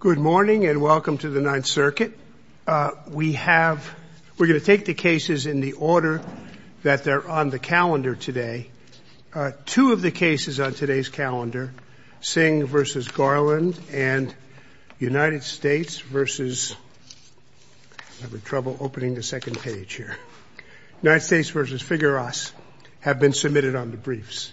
Good morning and welcome to the Ninth Circuit. We're going to take the cases in the order that they're on the calendar today. Two of the cases on today's calendar, Singh v. Garland and United States v. Figueras, have been submitted on the briefs.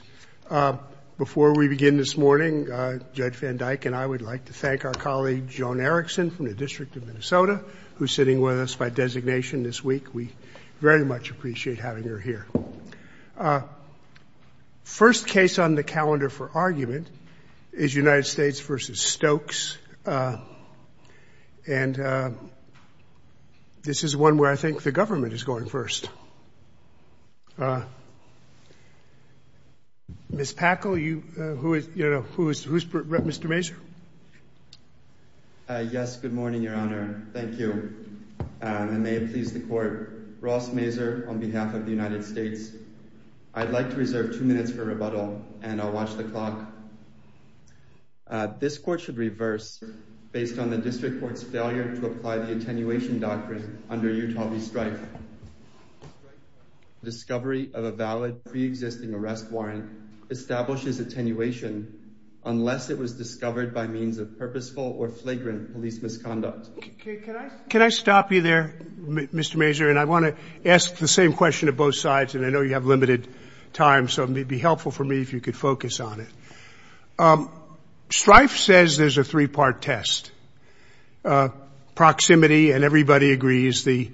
Before we begin this morning, Judge Van Dyke and I would like to thank our colleague Joan Erickson from the District of Minnesota, who's sitting with us by designation this week. We very much appreciate having her here. First case on the calendar for argument is United States v. Stokes, and this is one where I think the government is going first. Ms. Packel, who is Mr. Mazur? Yes, good morning, Your Honor. Thank you. And may it please the Court, Ross Mazur on behalf of the United States. I'd like to reserve two minutes for rebuttal, and I'll watch the clock. This Court should reverse based on the District Court's failure to apply the attenuation doctrine under Utah v. Strife. Discovery of a valid preexisting arrest warrant establishes attenuation unless it was discovered by means of purposeful or flagrant police misconduct. Can I stop you there, Mr. Mazur? And I want to ask the same question of both sides, and I know you have limited time, so it would be helpful for me if you could focus on it. Strife says there's a three-part test. Proximity, and everybody agrees the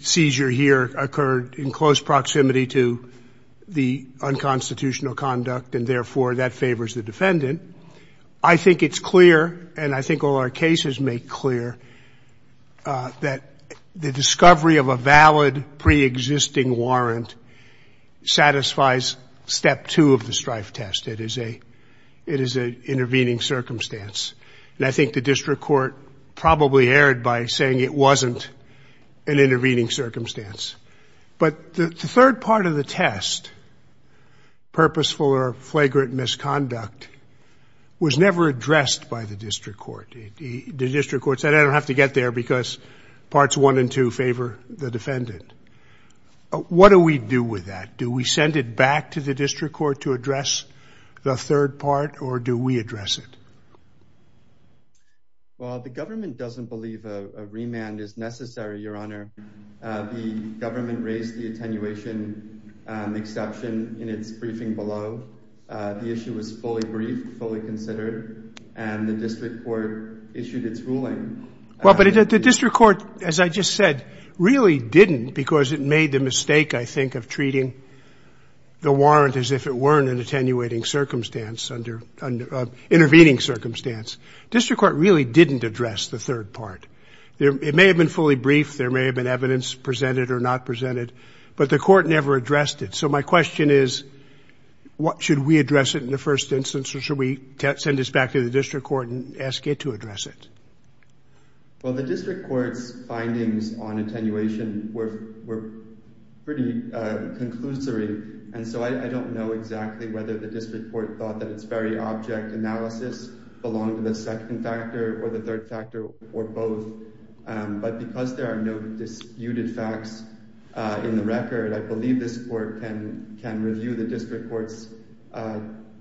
seizure here occurred in close proximity to the unconstitutional conduct, and therefore that favors the defendant. I think it's clear, and I think all our cases make clear, that the discovery of a valid preexisting warrant satisfies step two of the Strife test. It is an intervening circumstance, and I think the District Court probably erred by saying it wasn't an intervening circumstance. But the third part of the test, purposeful or flagrant misconduct, was never addressed by the District Court. The District Court said, I don't have to get there because parts one and two favor the defendant. What do we do with that? Do we send it back to the District Court to address the third part, or do we address it? Well, the government doesn't believe a remand is necessary, Your Honor. The government raised the attenuation exception in its briefing below. The issue was fully briefed, fully considered, and the District Court issued its ruling. Well, but the District Court, as I just said, really didn't, because it made the mistake, I think, of treating the warrant as if it weren't an attenuating circumstance, intervening circumstance. District Court really didn't address the third part. It may have been fully briefed. There may have been evidence presented or not presented, but the Court never addressed it. So my question is should we address it in the first instance, or should we send this back to the District Court and ask it to address it? Well, the District Court's findings on attenuation were pretty conclusory, and so I don't know exactly whether the District Court thought that its very object analysis belonged to the second factor or the third factor or both. But because there are no disputed facts in the record, I believe this Court can review the District Court's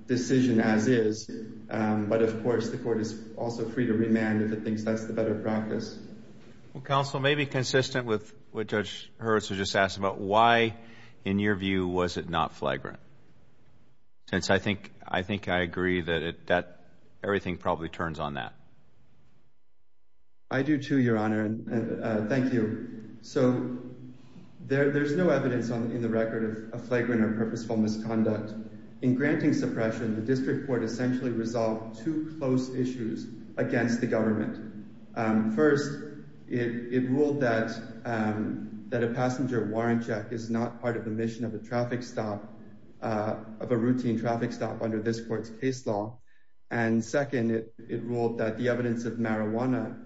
decision as is. But, of course, the Court is also free to remand if it thinks that's the better practice. Well, Counsel, maybe consistent with what Judge Herzl just asked about, why, in your view, was it not flagrant? Since I think I agree that everything probably turns on that. I do, too, Your Honor, and thank you. So there's no evidence in the record of flagrant or purposeful misconduct. In granting suppression, the District Court essentially resolved two close issues against the government. First, it ruled that a passenger warrant check is not part of the mission of a traffic stop, of a routine traffic stop under this Court's case law. And second, it ruled that the evidence of marijuana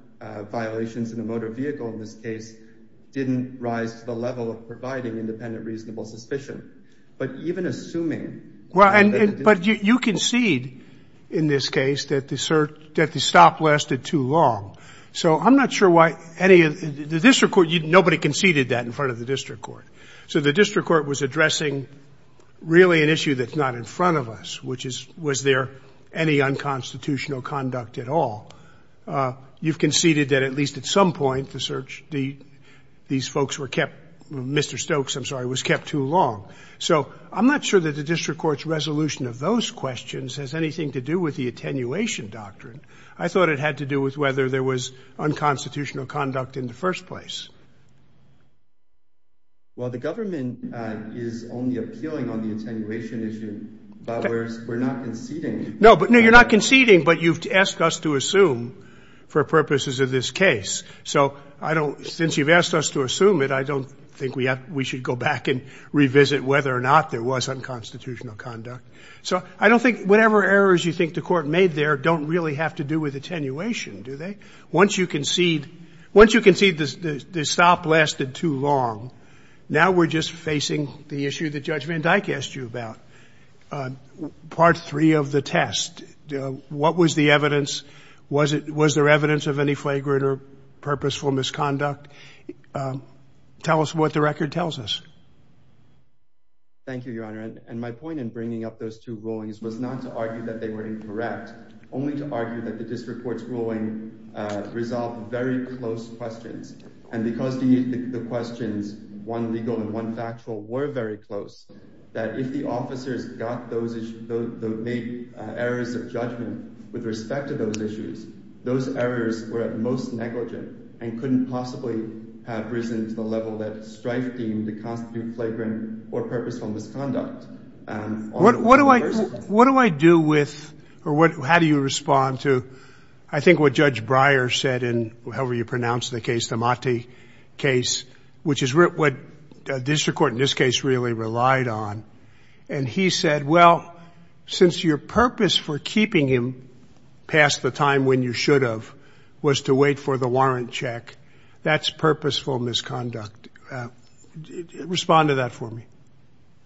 violations in a motor vehicle in this case didn't rise to the level of providing independent reasonable suspicion. But even assuming that the district court was not involved. Well, but you concede in this case that the search that the stop lasted too long. So I'm not sure why any of the District Court, nobody conceded that in front of the District Court. So the District Court was addressing really an issue that's not in front of us, which is, was there any unconstitutional conduct at all? You've conceded that at least at some point the search, these folks were kept Mr. Stokes, I'm sorry, was kept too long. So I'm not sure that the District Court's resolution of those questions has anything to do with the attenuation doctrine. I thought it had to do with whether there was unconstitutional conduct in the first place. Well, the government is only appealing on the attenuation issue, but we're not conceding. No, but no, you're not conceding, but you've asked us to assume for purposes of this case. So I don't, since you've asked us to assume it, I don't think we have, we should go back and revisit whether or not there was unconstitutional conduct. So I don't think, whatever errors you think the Court made there don't really have to do with attenuation, do they? Once you concede, once you concede the stop lasted too long, now we're just facing the issue that Judge Van Dyke asked you about, Part III of the test. What was the evidence? Was there evidence of any flagrant or purposeful misconduct? Tell us what the record tells us. Thank you, Your Honor. And my point in bringing up those two rulings was not to argue that they were incorrect, only to argue that the District Court's ruling resolved very close questions. And because the questions, one legal and one factual, were very close, that if the officers got those issues, made errors of judgment with respect to those issues, those errors were at most negligent and couldn't possibly have risen to the level that strife deemed to constitute flagrant or purposeful misconduct. What do I do with, or how do you respond to, I think what Judge Breyer said in, however you pronounce the case, the Motti case, which is what the District Court in this case really relied on, and he said, well, since your purpose for keeping him past the time when you should have was to wait for the warrant check, that's purposeful misconduct. Respond to that for me.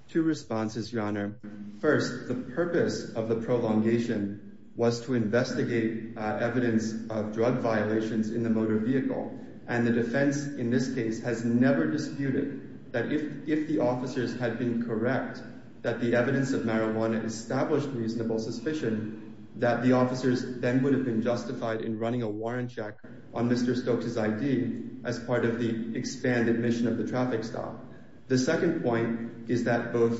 Two responses, Your Honor. First, the purpose of the prolongation was to investigate evidence of drug violations in the motor vehicle, and the defense in this case has never disputed that if the officers had been correct, that the evidence of marijuana established reasonable suspicion, that the officers then would have been justified in running a warrant check on Mr. Stokes' ID as part of the expanded mission of the traffic stop. The second point is that both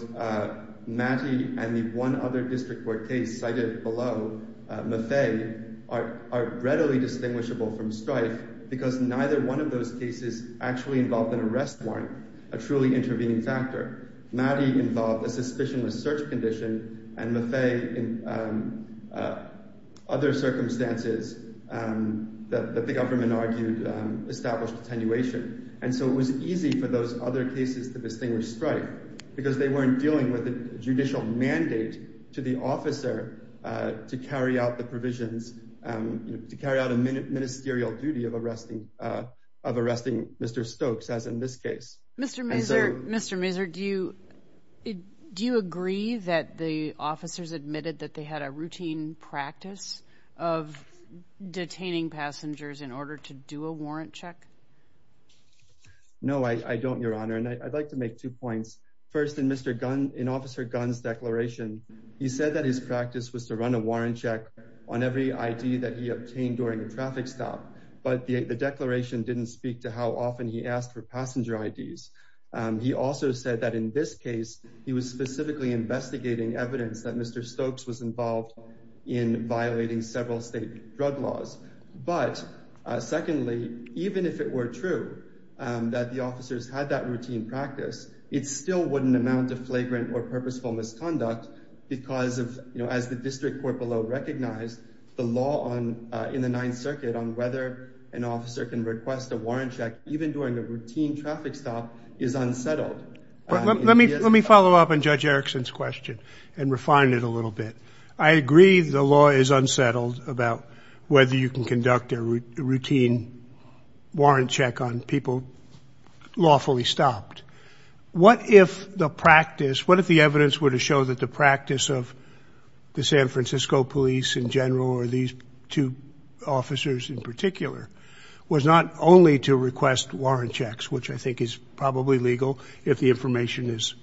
Motti and the one other District Court case cited below, Maffei, are readily distinguishable from Strife because neither one of those cases actually involved an arrest warrant, a truly intervening factor. Motti involved a suspicionless search condition, and Maffei in other circumstances that the government argued established attenuation. And so it was easy for those other cases to distinguish Strife because they weren't dealing with a judicial mandate to the officer to carry out the provisions, to carry out a ministerial duty of arresting Mr. Stokes, as in this case. Mr. Mazur, do you agree that the officers admitted that they had a routine practice of detaining passengers in order to do a warrant check? No, I don't, Your Honor, and I'd like to make two points. First, in Officer Gunn's declaration, he said that his practice was to run a warrant check on every ID that he obtained during a traffic stop. But the declaration didn't speak to how often he asked for passenger IDs. He also said that in this case, he was specifically investigating evidence that Mr. Stokes was involved in violating several state drug laws. But secondly, even if it were true that the officers had that routine practice, it still wouldn't amount to flagrant or purposeful misconduct because, as the district court below recognized, the law in the Ninth Circuit on whether an officer can request a warrant check even during a routine traffic stop is unsettled. Let me follow up on Judge Erickson's question and refine it a little bit. I agree the law is unsettled about whether you can conduct a routine warrant check on people lawfully stopped. What if the practice, what if the evidence were to show that the practice of the San Francisco police in general or these two officers in particular was not only to request warrant checks, which I think is probably legal if the information is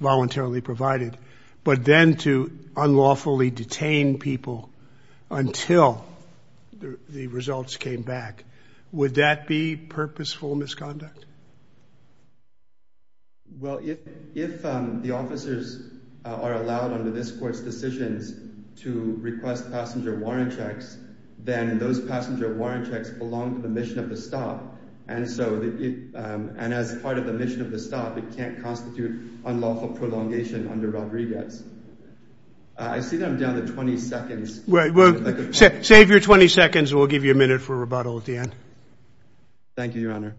voluntarily provided, but then to unlawfully detain people until the results came back? Would that be purposeful misconduct? Well, if the officers are allowed under this court's decisions to request passenger warrant checks, then those passenger warrant checks belong to the mission of the stop. And so as part of the mission of the stop, it can't constitute unlawful prolongation under Rodriguez. I see that I'm down to 20 seconds. Save your 20 seconds and we'll give you a minute for rebuttal at the end. Thank you, Your Honor.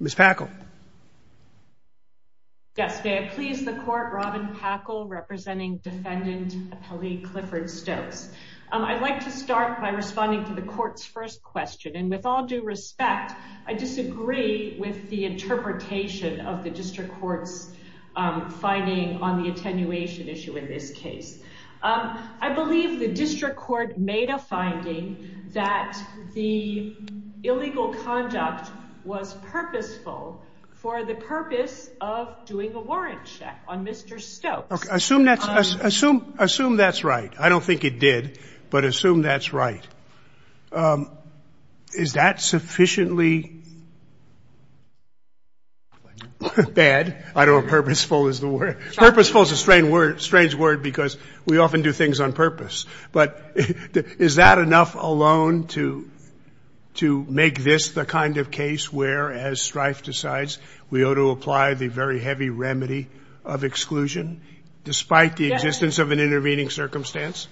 Ms. Packle. Yes, may I please the court, Robin Packle, representing Defendant Kelly Clifford Stokes. I'd like to start by responding to the court's first question. And with all due respect, I disagree with the interpretation of the district court's finding on the attenuation issue in this case. I believe the district court made a finding that the illegal conduct was purposeful for the purpose of doing a warrant check on Mr. Stokes. Assume that's right. I don't think it did, but assume that's right. Is that sufficiently bad? I don't know if purposeful is the word. We often do things on purpose. But is that enough alone to make this the kind of case where, as Strife decides, we ought to apply the very heavy remedy of exclusion, despite the existence of an intervening circumstance?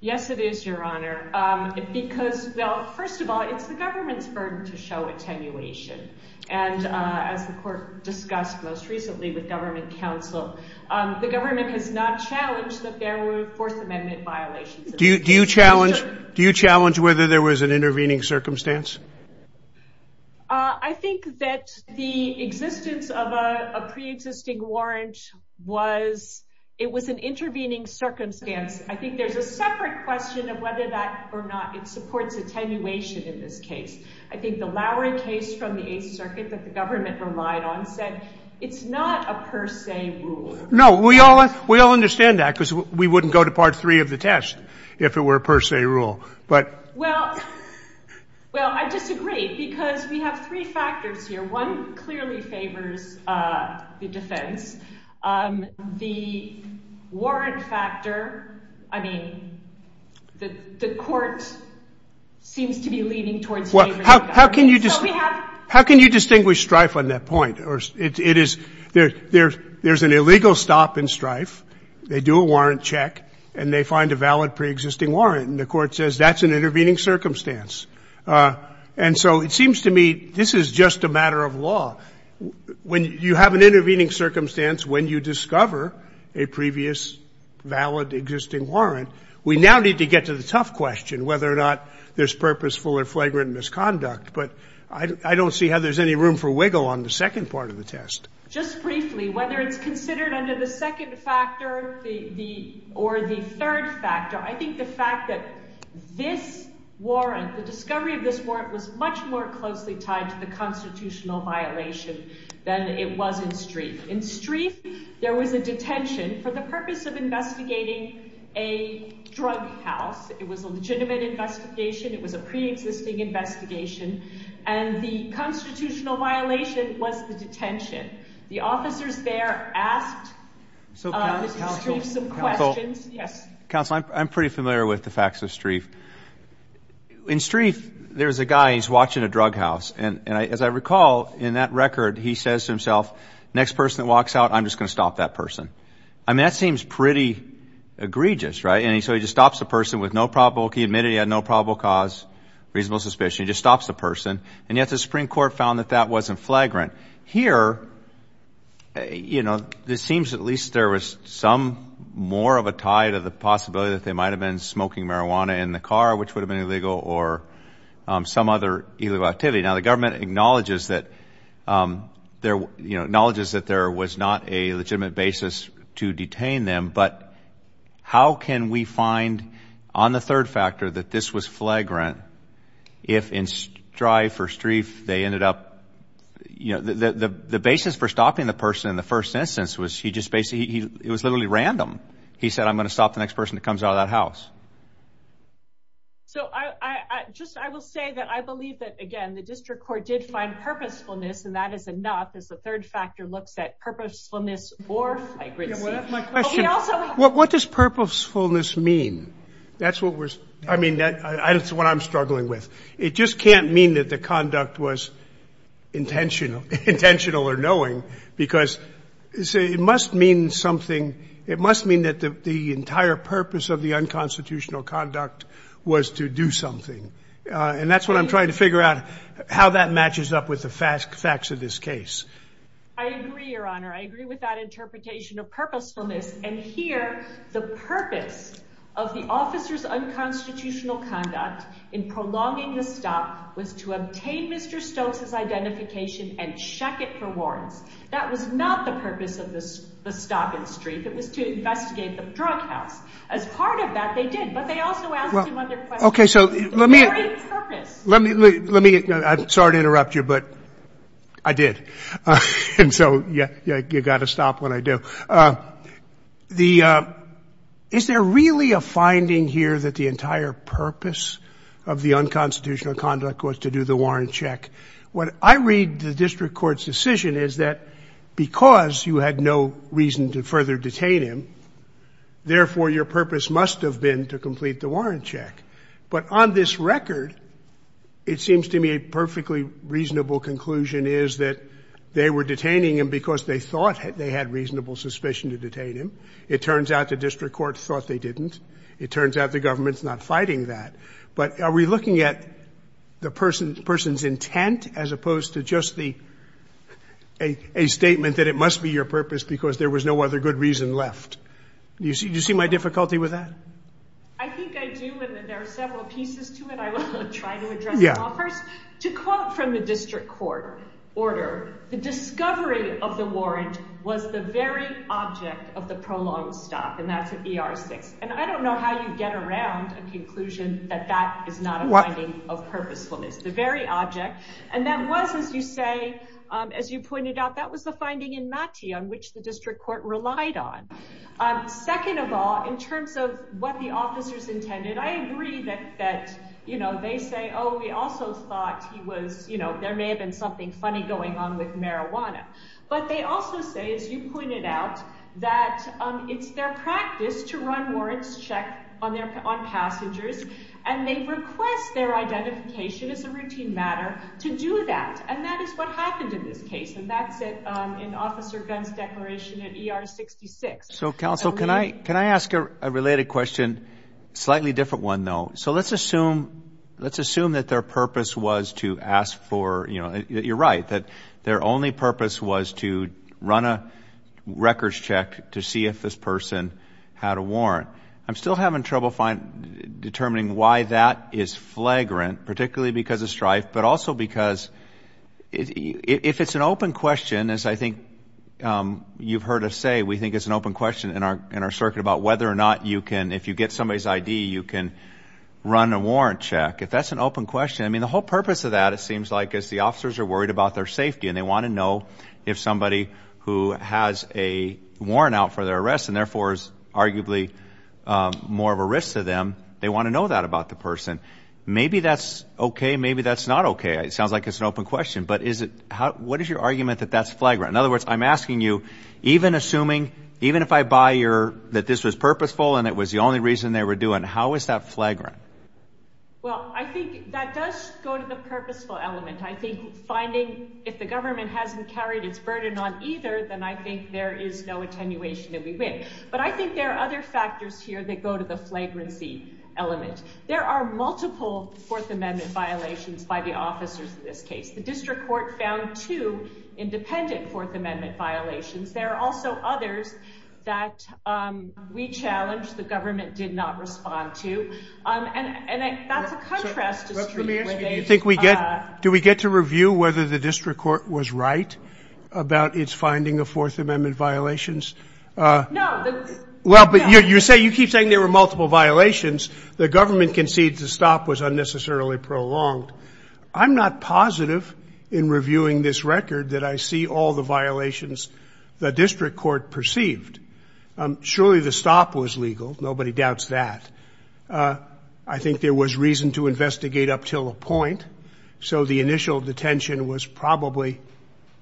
Yes, it is, Your Honor. Because, well, first of all, it's the government's burden to show attenuation. And as the court discussed most recently with government counsel, the government has not challenged that there were Fourth Amendment violations. Do you challenge whether there was an intervening circumstance? I think that the existence of a preexisting warrant was it was an intervening circumstance. I think there's a separate question of whether that or not it supports attenuation in this case. I think the Lowry case from the Eighth Circuit that the government relied on said it's not a per se rule. No, we all understand that, because we wouldn't go to Part 3 of the test if it were a per se rule. Well, I disagree, because we have three factors here. One clearly favors the defense. The warrant factor, I mean, the court seems to be leaning towards favoring the government. Well, how can you distinguish Strife on that point? There's an illegal stop in Strife. They do a warrant check, and they find a valid preexisting warrant, and the court says that's an intervening circumstance. And so it seems to me this is just a matter of law. When you have an intervening circumstance, when you discover a previous valid existing warrant, we now need to get to the tough question, whether or not there's purposeful or flagrant misconduct. But I don't see how there's any room for wiggle on the second part of the test. Just briefly, whether it's considered under the second factor or the third factor, I think the fact that this warrant, the discovery of this warrant, was much more closely tied to the constitutional violation than it was in Strife. In Strife, there was a detention for the purpose of investigating a drug house. It was a legitimate investigation. It was a preexisting investigation. And the constitutional violation was the detention. The officers there asked Mr. Strife some questions. Counsel, I'm pretty familiar with the facts of Strife. In Strife, there's a guy, he's watching a drug house, and as I recall, in that record, he says to himself, next person that walks out, I'm just going to stop that person. I mean, that seems pretty egregious, right? And so he just stops the person with no probable cause, reasonable suspicion. He just stops the person. And yet the Supreme Court found that that wasn't flagrant. Here, you know, it seems at least there was some more of a tie to the possibility that they might have been smoking marijuana in the car, which would have been illegal, or some other illegal activity. Now, the government acknowledges that there was not a legitimate basis to detain them, but how can we find on the third factor that this was flagrant if in Strife or Strife they ended up, you know, the basis for stopping the person in the first instance was he just basically, it was literally random. He said, I'm going to stop the next person that comes out of that house. So I just, I will say that I believe that, again, the district court did find purposefulness, and that is enough as the third factor looks at purposefulness or flagrancy. My question, what does purposefulness mean? That's what was, I mean, that's what I'm struggling with. It just can't mean that the conduct was intentional or knowing, because it must mean something. It must mean that the entire purpose of the unconstitutional conduct was to do something, and that's what I'm trying to figure out, how that matches up with the facts of this case. I agree, Your Honor. I agree with that interpretation of purposefulness, and here the purpose of the officer's unconstitutional conduct in prolonging the stop was to obtain Mr. Stokes' identification and check it for warrants. That was not the purpose of the stop and streak. It was to investigate the drug house. As part of that, they did, but they also asked him other questions. The very purpose. Let me, I'm sorry to interrupt you, but I did, and so you've got to stop when I do. The, is there really a finding here that the entire purpose of the unconstitutional conduct was to do the warrant check? What I read the district court's decision is that because you had no reason to further detain him, therefore your purpose must have been to complete the warrant check. But on this record, it seems to me a perfectly reasonable conclusion is that they were It turns out the district court thought they didn't. It turns out the government's not fighting that. But are we looking at the person's intent as opposed to just a statement that it must be your purpose because there was no other good reason left? Do you see my difficulty with that? I think I do, and there are several pieces to it. I will try to address them all. First, to quote from the district court order, the discovery of the warrant was the very object of the prolonged stop, and that's an ER6. And I don't know how you get around a conclusion that that is not a finding of purposefulness. The very object. And that was, as you say, as you pointed out, that was the finding in Machi on which the district court relied on. Second of all, in terms of what the officers intended, I agree that they say, oh, we also thought there may have been something funny going on with marijuana. But they also say, as you pointed out, that it's their practice to run warrants check on passengers, and they request their identification as a routine matter to do that. And that is what happened in this case. And that's in Officer Gunn's declaration in ER66. So, counsel, can I ask a related question? Slightly different one, though. So let's assume that their purpose was to ask for, you know, you're right, that their only purpose was to run a records check to see if this person had a warrant. I'm still having trouble determining why that is flagrant, particularly because of strife, but also because if it's an open question, as I think you've heard us say, we think it's an open question in our circuit about whether or not you can, if you get somebody's ID, you can run a warrant check. If that's an open question, I mean, the whole purpose of that, it seems like, is the officers are worried about their safety, and they want to know if somebody who has a warrant out for their arrest and therefore is arguably more of a risk to them, they want to know that about the person. Maybe that's okay, maybe that's not okay. It sounds like it's an open question, but what is your argument that that's flagrant? In other words, I'm asking you, even assuming, even if I buy that this was purposeful and it was the only reason they were doing it, how is that flagrant? Well, I think that does go to the purposeful element. I think finding if the government hasn't carried its burden on either, then I think there is no attenuation that we win. But I think there are other factors here that go to the flagrancy element. There are multiple Fourth Amendment violations by the officers in this case. The district court found two independent Fourth Amendment violations. There are also others that we challenged the government did not respond to. And that's a contrast to Street. Do we get to review whether the district court was right about its finding of Fourth Amendment violations? No. Well, but you keep saying there were multiple violations. The government concedes the stop was unnecessarily prolonged. I'm not positive in reviewing this record that I see all the violations the district court perceived. Surely the stop was legal. Nobody doubts that. I think there was reason to investigate up till a point, so the initial detention was probably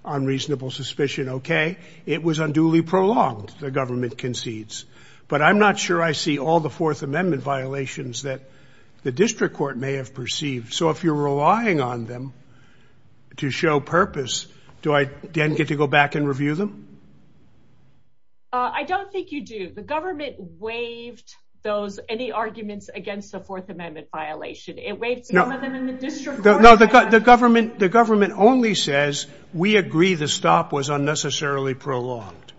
on reasonable suspicion, okay. It was unduly prolonged, the government concedes. But I'm not sure I see all the Fourth Amendment violations that the district court may have perceived. So if you're relying on them to show purpose, do I then get to go back and review them? I don't think you do. The government waived any arguments against the Fourth Amendment violation. It waived some of them in the district court. No, the government only says we agree the stop was unnecessarily prolonged.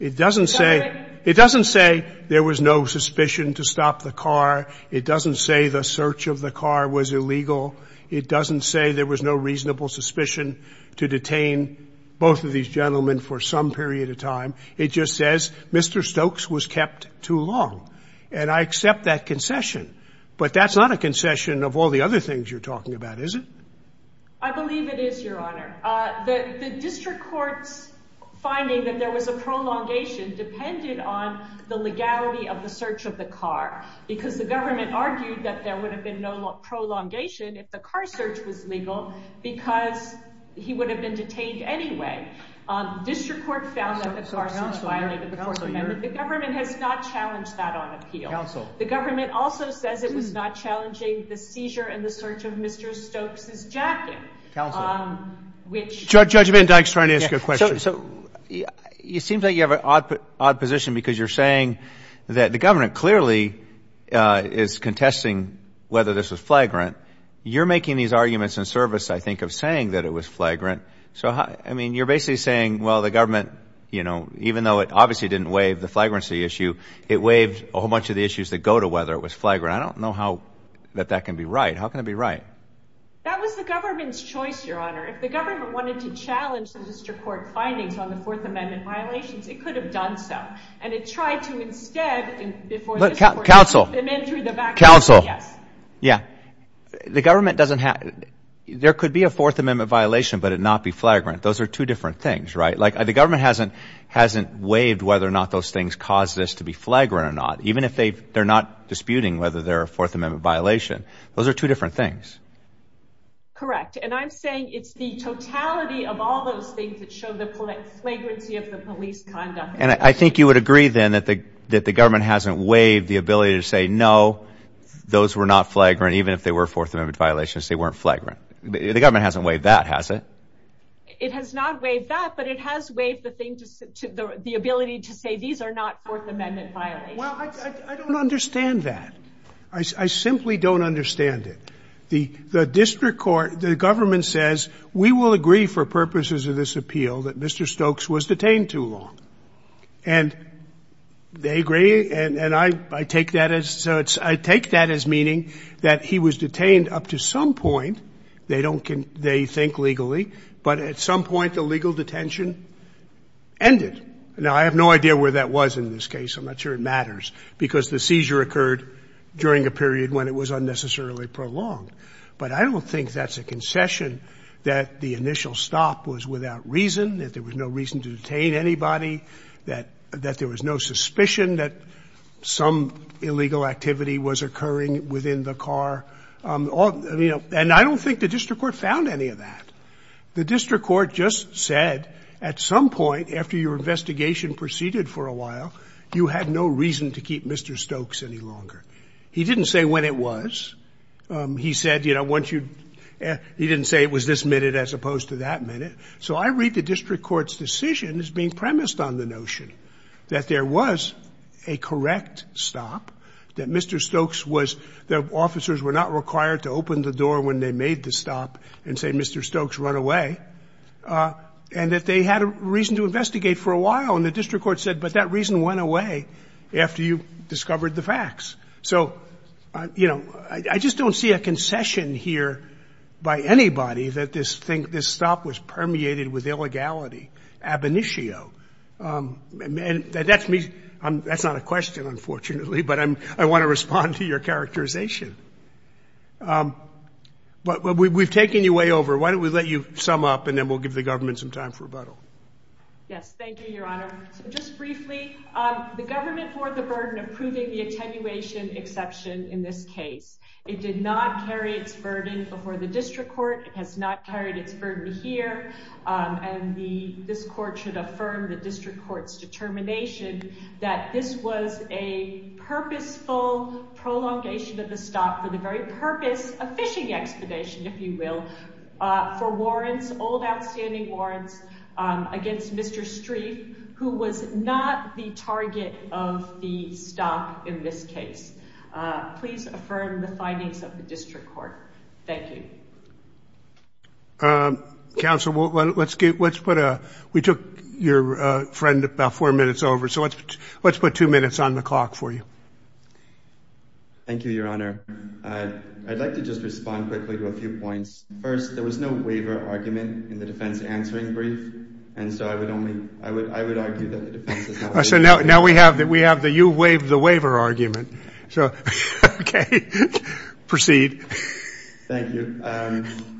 It doesn't say there was no suspicion to stop the car. It doesn't say the search of the car was illegal. It doesn't say there was no reasonable suspicion to detain both of these gentlemen for some period of time. It just says Mr. Stokes was kept too long, and I accept that concession. But that's not a concession of all the other things you're talking about, is it? I believe it is, Your Honor. The district court's finding that there was a prolongation depended on the legality of the search of the car because the government argued that there would have been no prolongation if the car search was legal because he would have been detained anyway. District court found that the car search violated the Fourth Amendment. The government has not challenged that on appeal. The government also says it was not challenging the seizure and the search of Mr. Stokes' jacket. Judge Van Dyk is trying to ask a question. So it seems like you have an odd position because you're saying that the government clearly is contesting whether this was flagrant. You're making these arguments in service, I think, of saying that it was flagrant. So, I mean, you're basically saying, well, the government, you know, even though it obviously didn't waive the flagrancy issue, it waived a whole bunch of the issues that go to whether it was flagrant. I don't know how that that can be right. How can it be right? That was the government's choice, Your Honor. If the government wanted to challenge the district court findings on the Fourth Amendment violations, it could have done so. And it tried to instead. Look, counsel, counsel. Yes. Yeah. The government doesn't have there could be a Fourth Amendment violation, but it not be flagrant. Those are two different things, right? Like the government hasn't hasn't waived whether or not those things cause this to be flagrant or not, even if they they're not disputing whether they're a Fourth Amendment violation. Those are two different things. Correct. And I'm saying it's the totality of all those things that show the flagrancy of the police conduct. And I think you would agree, then, that the government hasn't waived the ability to say, no, those were not flagrant, even if they were Fourth Amendment violations. They weren't flagrant. The government hasn't waived that, has it? It has not waived that, but it has waived the ability to say these are not Fourth Amendment violations. Well, I don't understand that. I simply don't understand it. The district court, the government says we will agree for purposes of this appeal that Mr. Stokes was detained too long. And they agree, and I take that as meaning that he was detained up to some point. They don't think legally, but at some point the legal detention ended. Now, I have no idea where that was in this case. I'm not sure it matters because the seizure occurred during a period when it was unnecessarily prolonged. But I don't think that's a concession that the initial stop was without reason, that there was no reason to detain anybody, that there was no suspicion that some illegal activity was occurring within the car. And I don't think the district court found any of that. The district court just said at some point after your investigation proceeded for a while, you had no reason to keep Mr. Stokes any longer. He didn't say when it was. He said, you know, once you – he didn't say it was this minute as opposed to that minute. So I read the district court's decision as being premised on the notion that there was a correct stop, that Mr. Stokes was – that officers were not required to open the door when they made the stop and say, Mr. Stokes, run away, and that they had a reason to investigate for a while. And the district court said, but that reason went away after you discovered the facts. So, you know, I just don't see a concession here by anybody that this stop was permeated with illegality, ab initio. And that's me – that's not a question, unfortunately, but I want to respond to your characterization. But we've taken you way over. Why don't we let you sum up and then we'll give the government some time for rebuttal. Yes, thank you, Your Honor. So just briefly, the government bore the burden of proving the attenuation exception in this case. It did not carry its burden before the district court. It has not carried its burden here. And this court should affirm the district court's determination that this was a purposeful prolongation of the stop for the very purpose of fishing expedition, if you will, for warrants, old outstanding warrants against Mr. Streiff, who was not the target of the stop in this case. Please affirm the findings of the district court. Thank you. Counsel, let's put a – we took your friend about four minutes over, so let's put two minutes on the clock for you. Thank you, Your Honor. I'd like to just respond quickly to a few points. First, there was no waiver argument in the defense answering brief, and so I would only – I would argue that the defense is not – So now we have the you waived the waiver argument. So, okay, proceed. Thank you.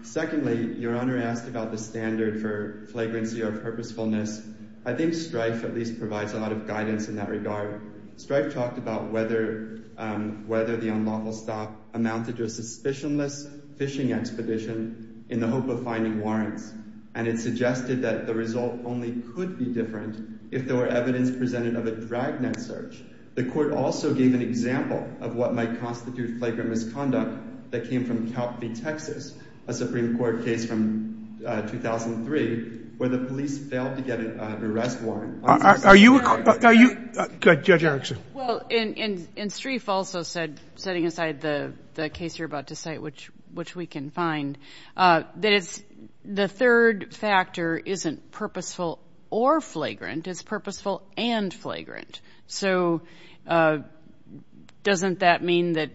Secondly, Your Honor asked about the standard for flagrancy or purposefulness. I think Streiff at least provides a lot of guidance in that regard. Streiff talked about whether the unlawful stop amounted to a suspicionless fishing expedition in the hope of finding warrants, and it suggested that the result only could be different if there were evidence presented of a dragnet search. The court also gave an example of what might constitute flagrant misconduct that came from Calfee, Texas, a Supreme Court case from 2003, where the police failed to get an arrest warrant. Are you – go ahead, Judge Erickson. Well, and Streiff also said, setting aside the case you're about to cite, which we can find, that the third factor isn't purposeful or flagrant, it's purposeful and flagrant. So doesn't that mean that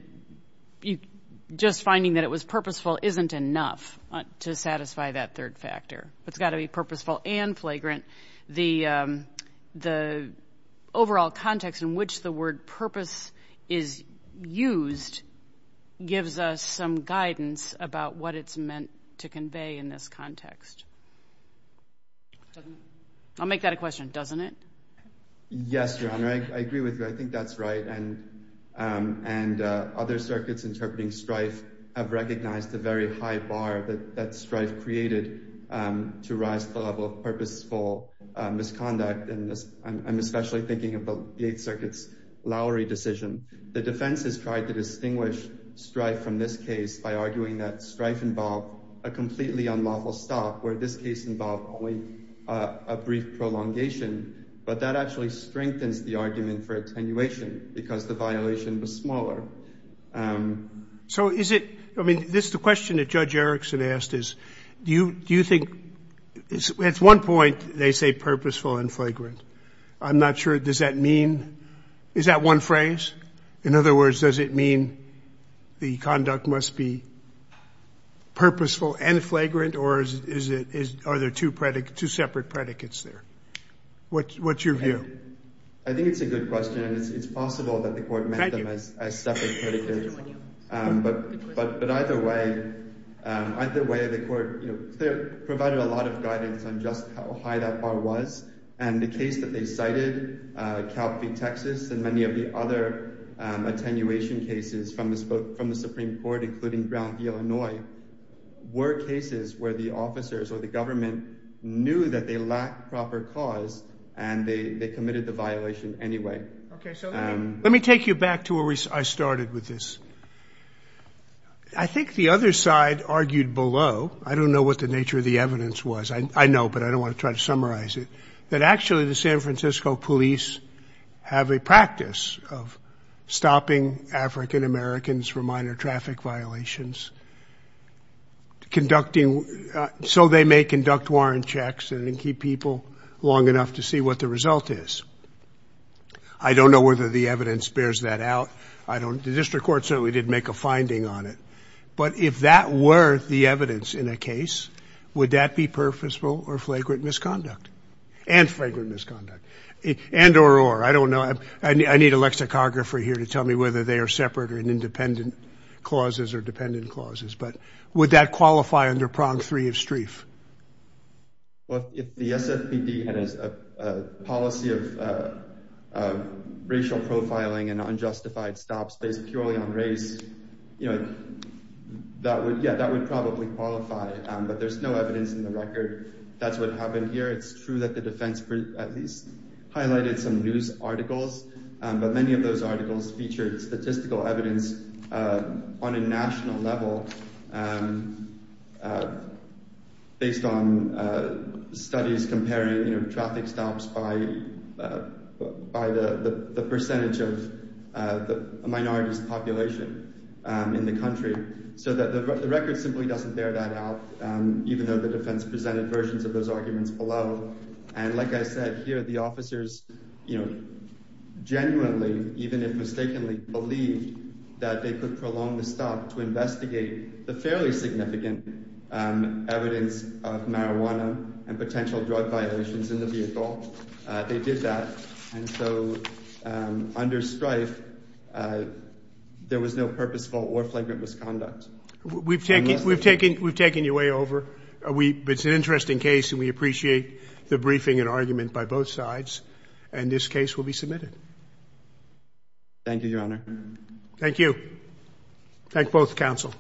just finding that it was purposeful isn't enough to satisfy that third factor? It's got to be purposeful and flagrant. The overall context in which the word purpose is used gives us some guidance about what it's meant to convey in this context. I'll make that a question. Doesn't it? Yes, Your Honor, I agree with you. I think that's right, and other circuits interpreting Streiff have recognized the very high bar that Streiff created to rise to the level of purposeful misconduct, and I'm especially thinking of the Eighth Circuit's Lowry decision. The defense has tried to distinguish Streiff from this case by arguing that Streiff involved a completely unlawful stop, where this case involved only a brief prolongation, but that actually strengthens the argument for attenuation because the violation was smaller. So is it – I mean, the question that Judge Erickson asked is do you think – at one point they say purposeful and flagrant. I'm not sure does that mean – is that one phrase? In other words, does it mean the conduct must be purposeful and flagrant, or are there two separate predicates there? What's your view? I think it's a good question, and it's possible that the court meant them as separate predicates. But either way, the court provided a lot of guidance on just how high that bar was, and the case that they cited, Calphe, Texas, and many of the other attenuation cases from the Supreme Court, including Brown v. Illinois, were cases where the officers or the government knew that they lacked proper cause and they committed the violation anyway. Okay. So let me take you back to where I started with this. I think the other side argued below – I don't know what the nature of the evidence was. I know, but I don't want to try to summarize it – that actually the San Francisco police have a practice of stopping African Americans from minor traffic violations, conducting – so they may conduct warrant checks and keep people long enough to see what the result is. I don't know whether the evidence bears that out. I don't – the district court certainly did make a finding on it. But if that were the evidence in a case, would that be purposeful or flagrant misconduct? And flagrant misconduct. And or or. I don't know. I need a lexicographer here to tell me whether they are separate or independent clauses or dependent clauses. But would that qualify under Prog. 3 of Streif? Well, if the SFPD had a policy of racial profiling and unjustified stops based purely on race, you know, that would – yeah, that would probably qualify. But there's no evidence in the record that's what happened here. It's true that the defense at least highlighted some news articles. But many of those articles featured statistical evidence on a national level based on studies comparing traffic stops by the percentage of the minority's population in the country. So the record simply doesn't bear that out, even though the defense presented versions of those arguments below. And like I said here, the officers, you know, genuinely, even if mistakenly, believed that they could prolong the stop to investigate the fairly significant evidence of marijuana and potential drug violations in the vehicle. They did that. And so under Streif, there was no purposeful or flagrant misconduct. We've taken your way over. It's an interesting case, and we appreciate the briefing and argument by both sides. And this case will be submitted. Thank you, Your Honor. Thank you. Thank both counsel.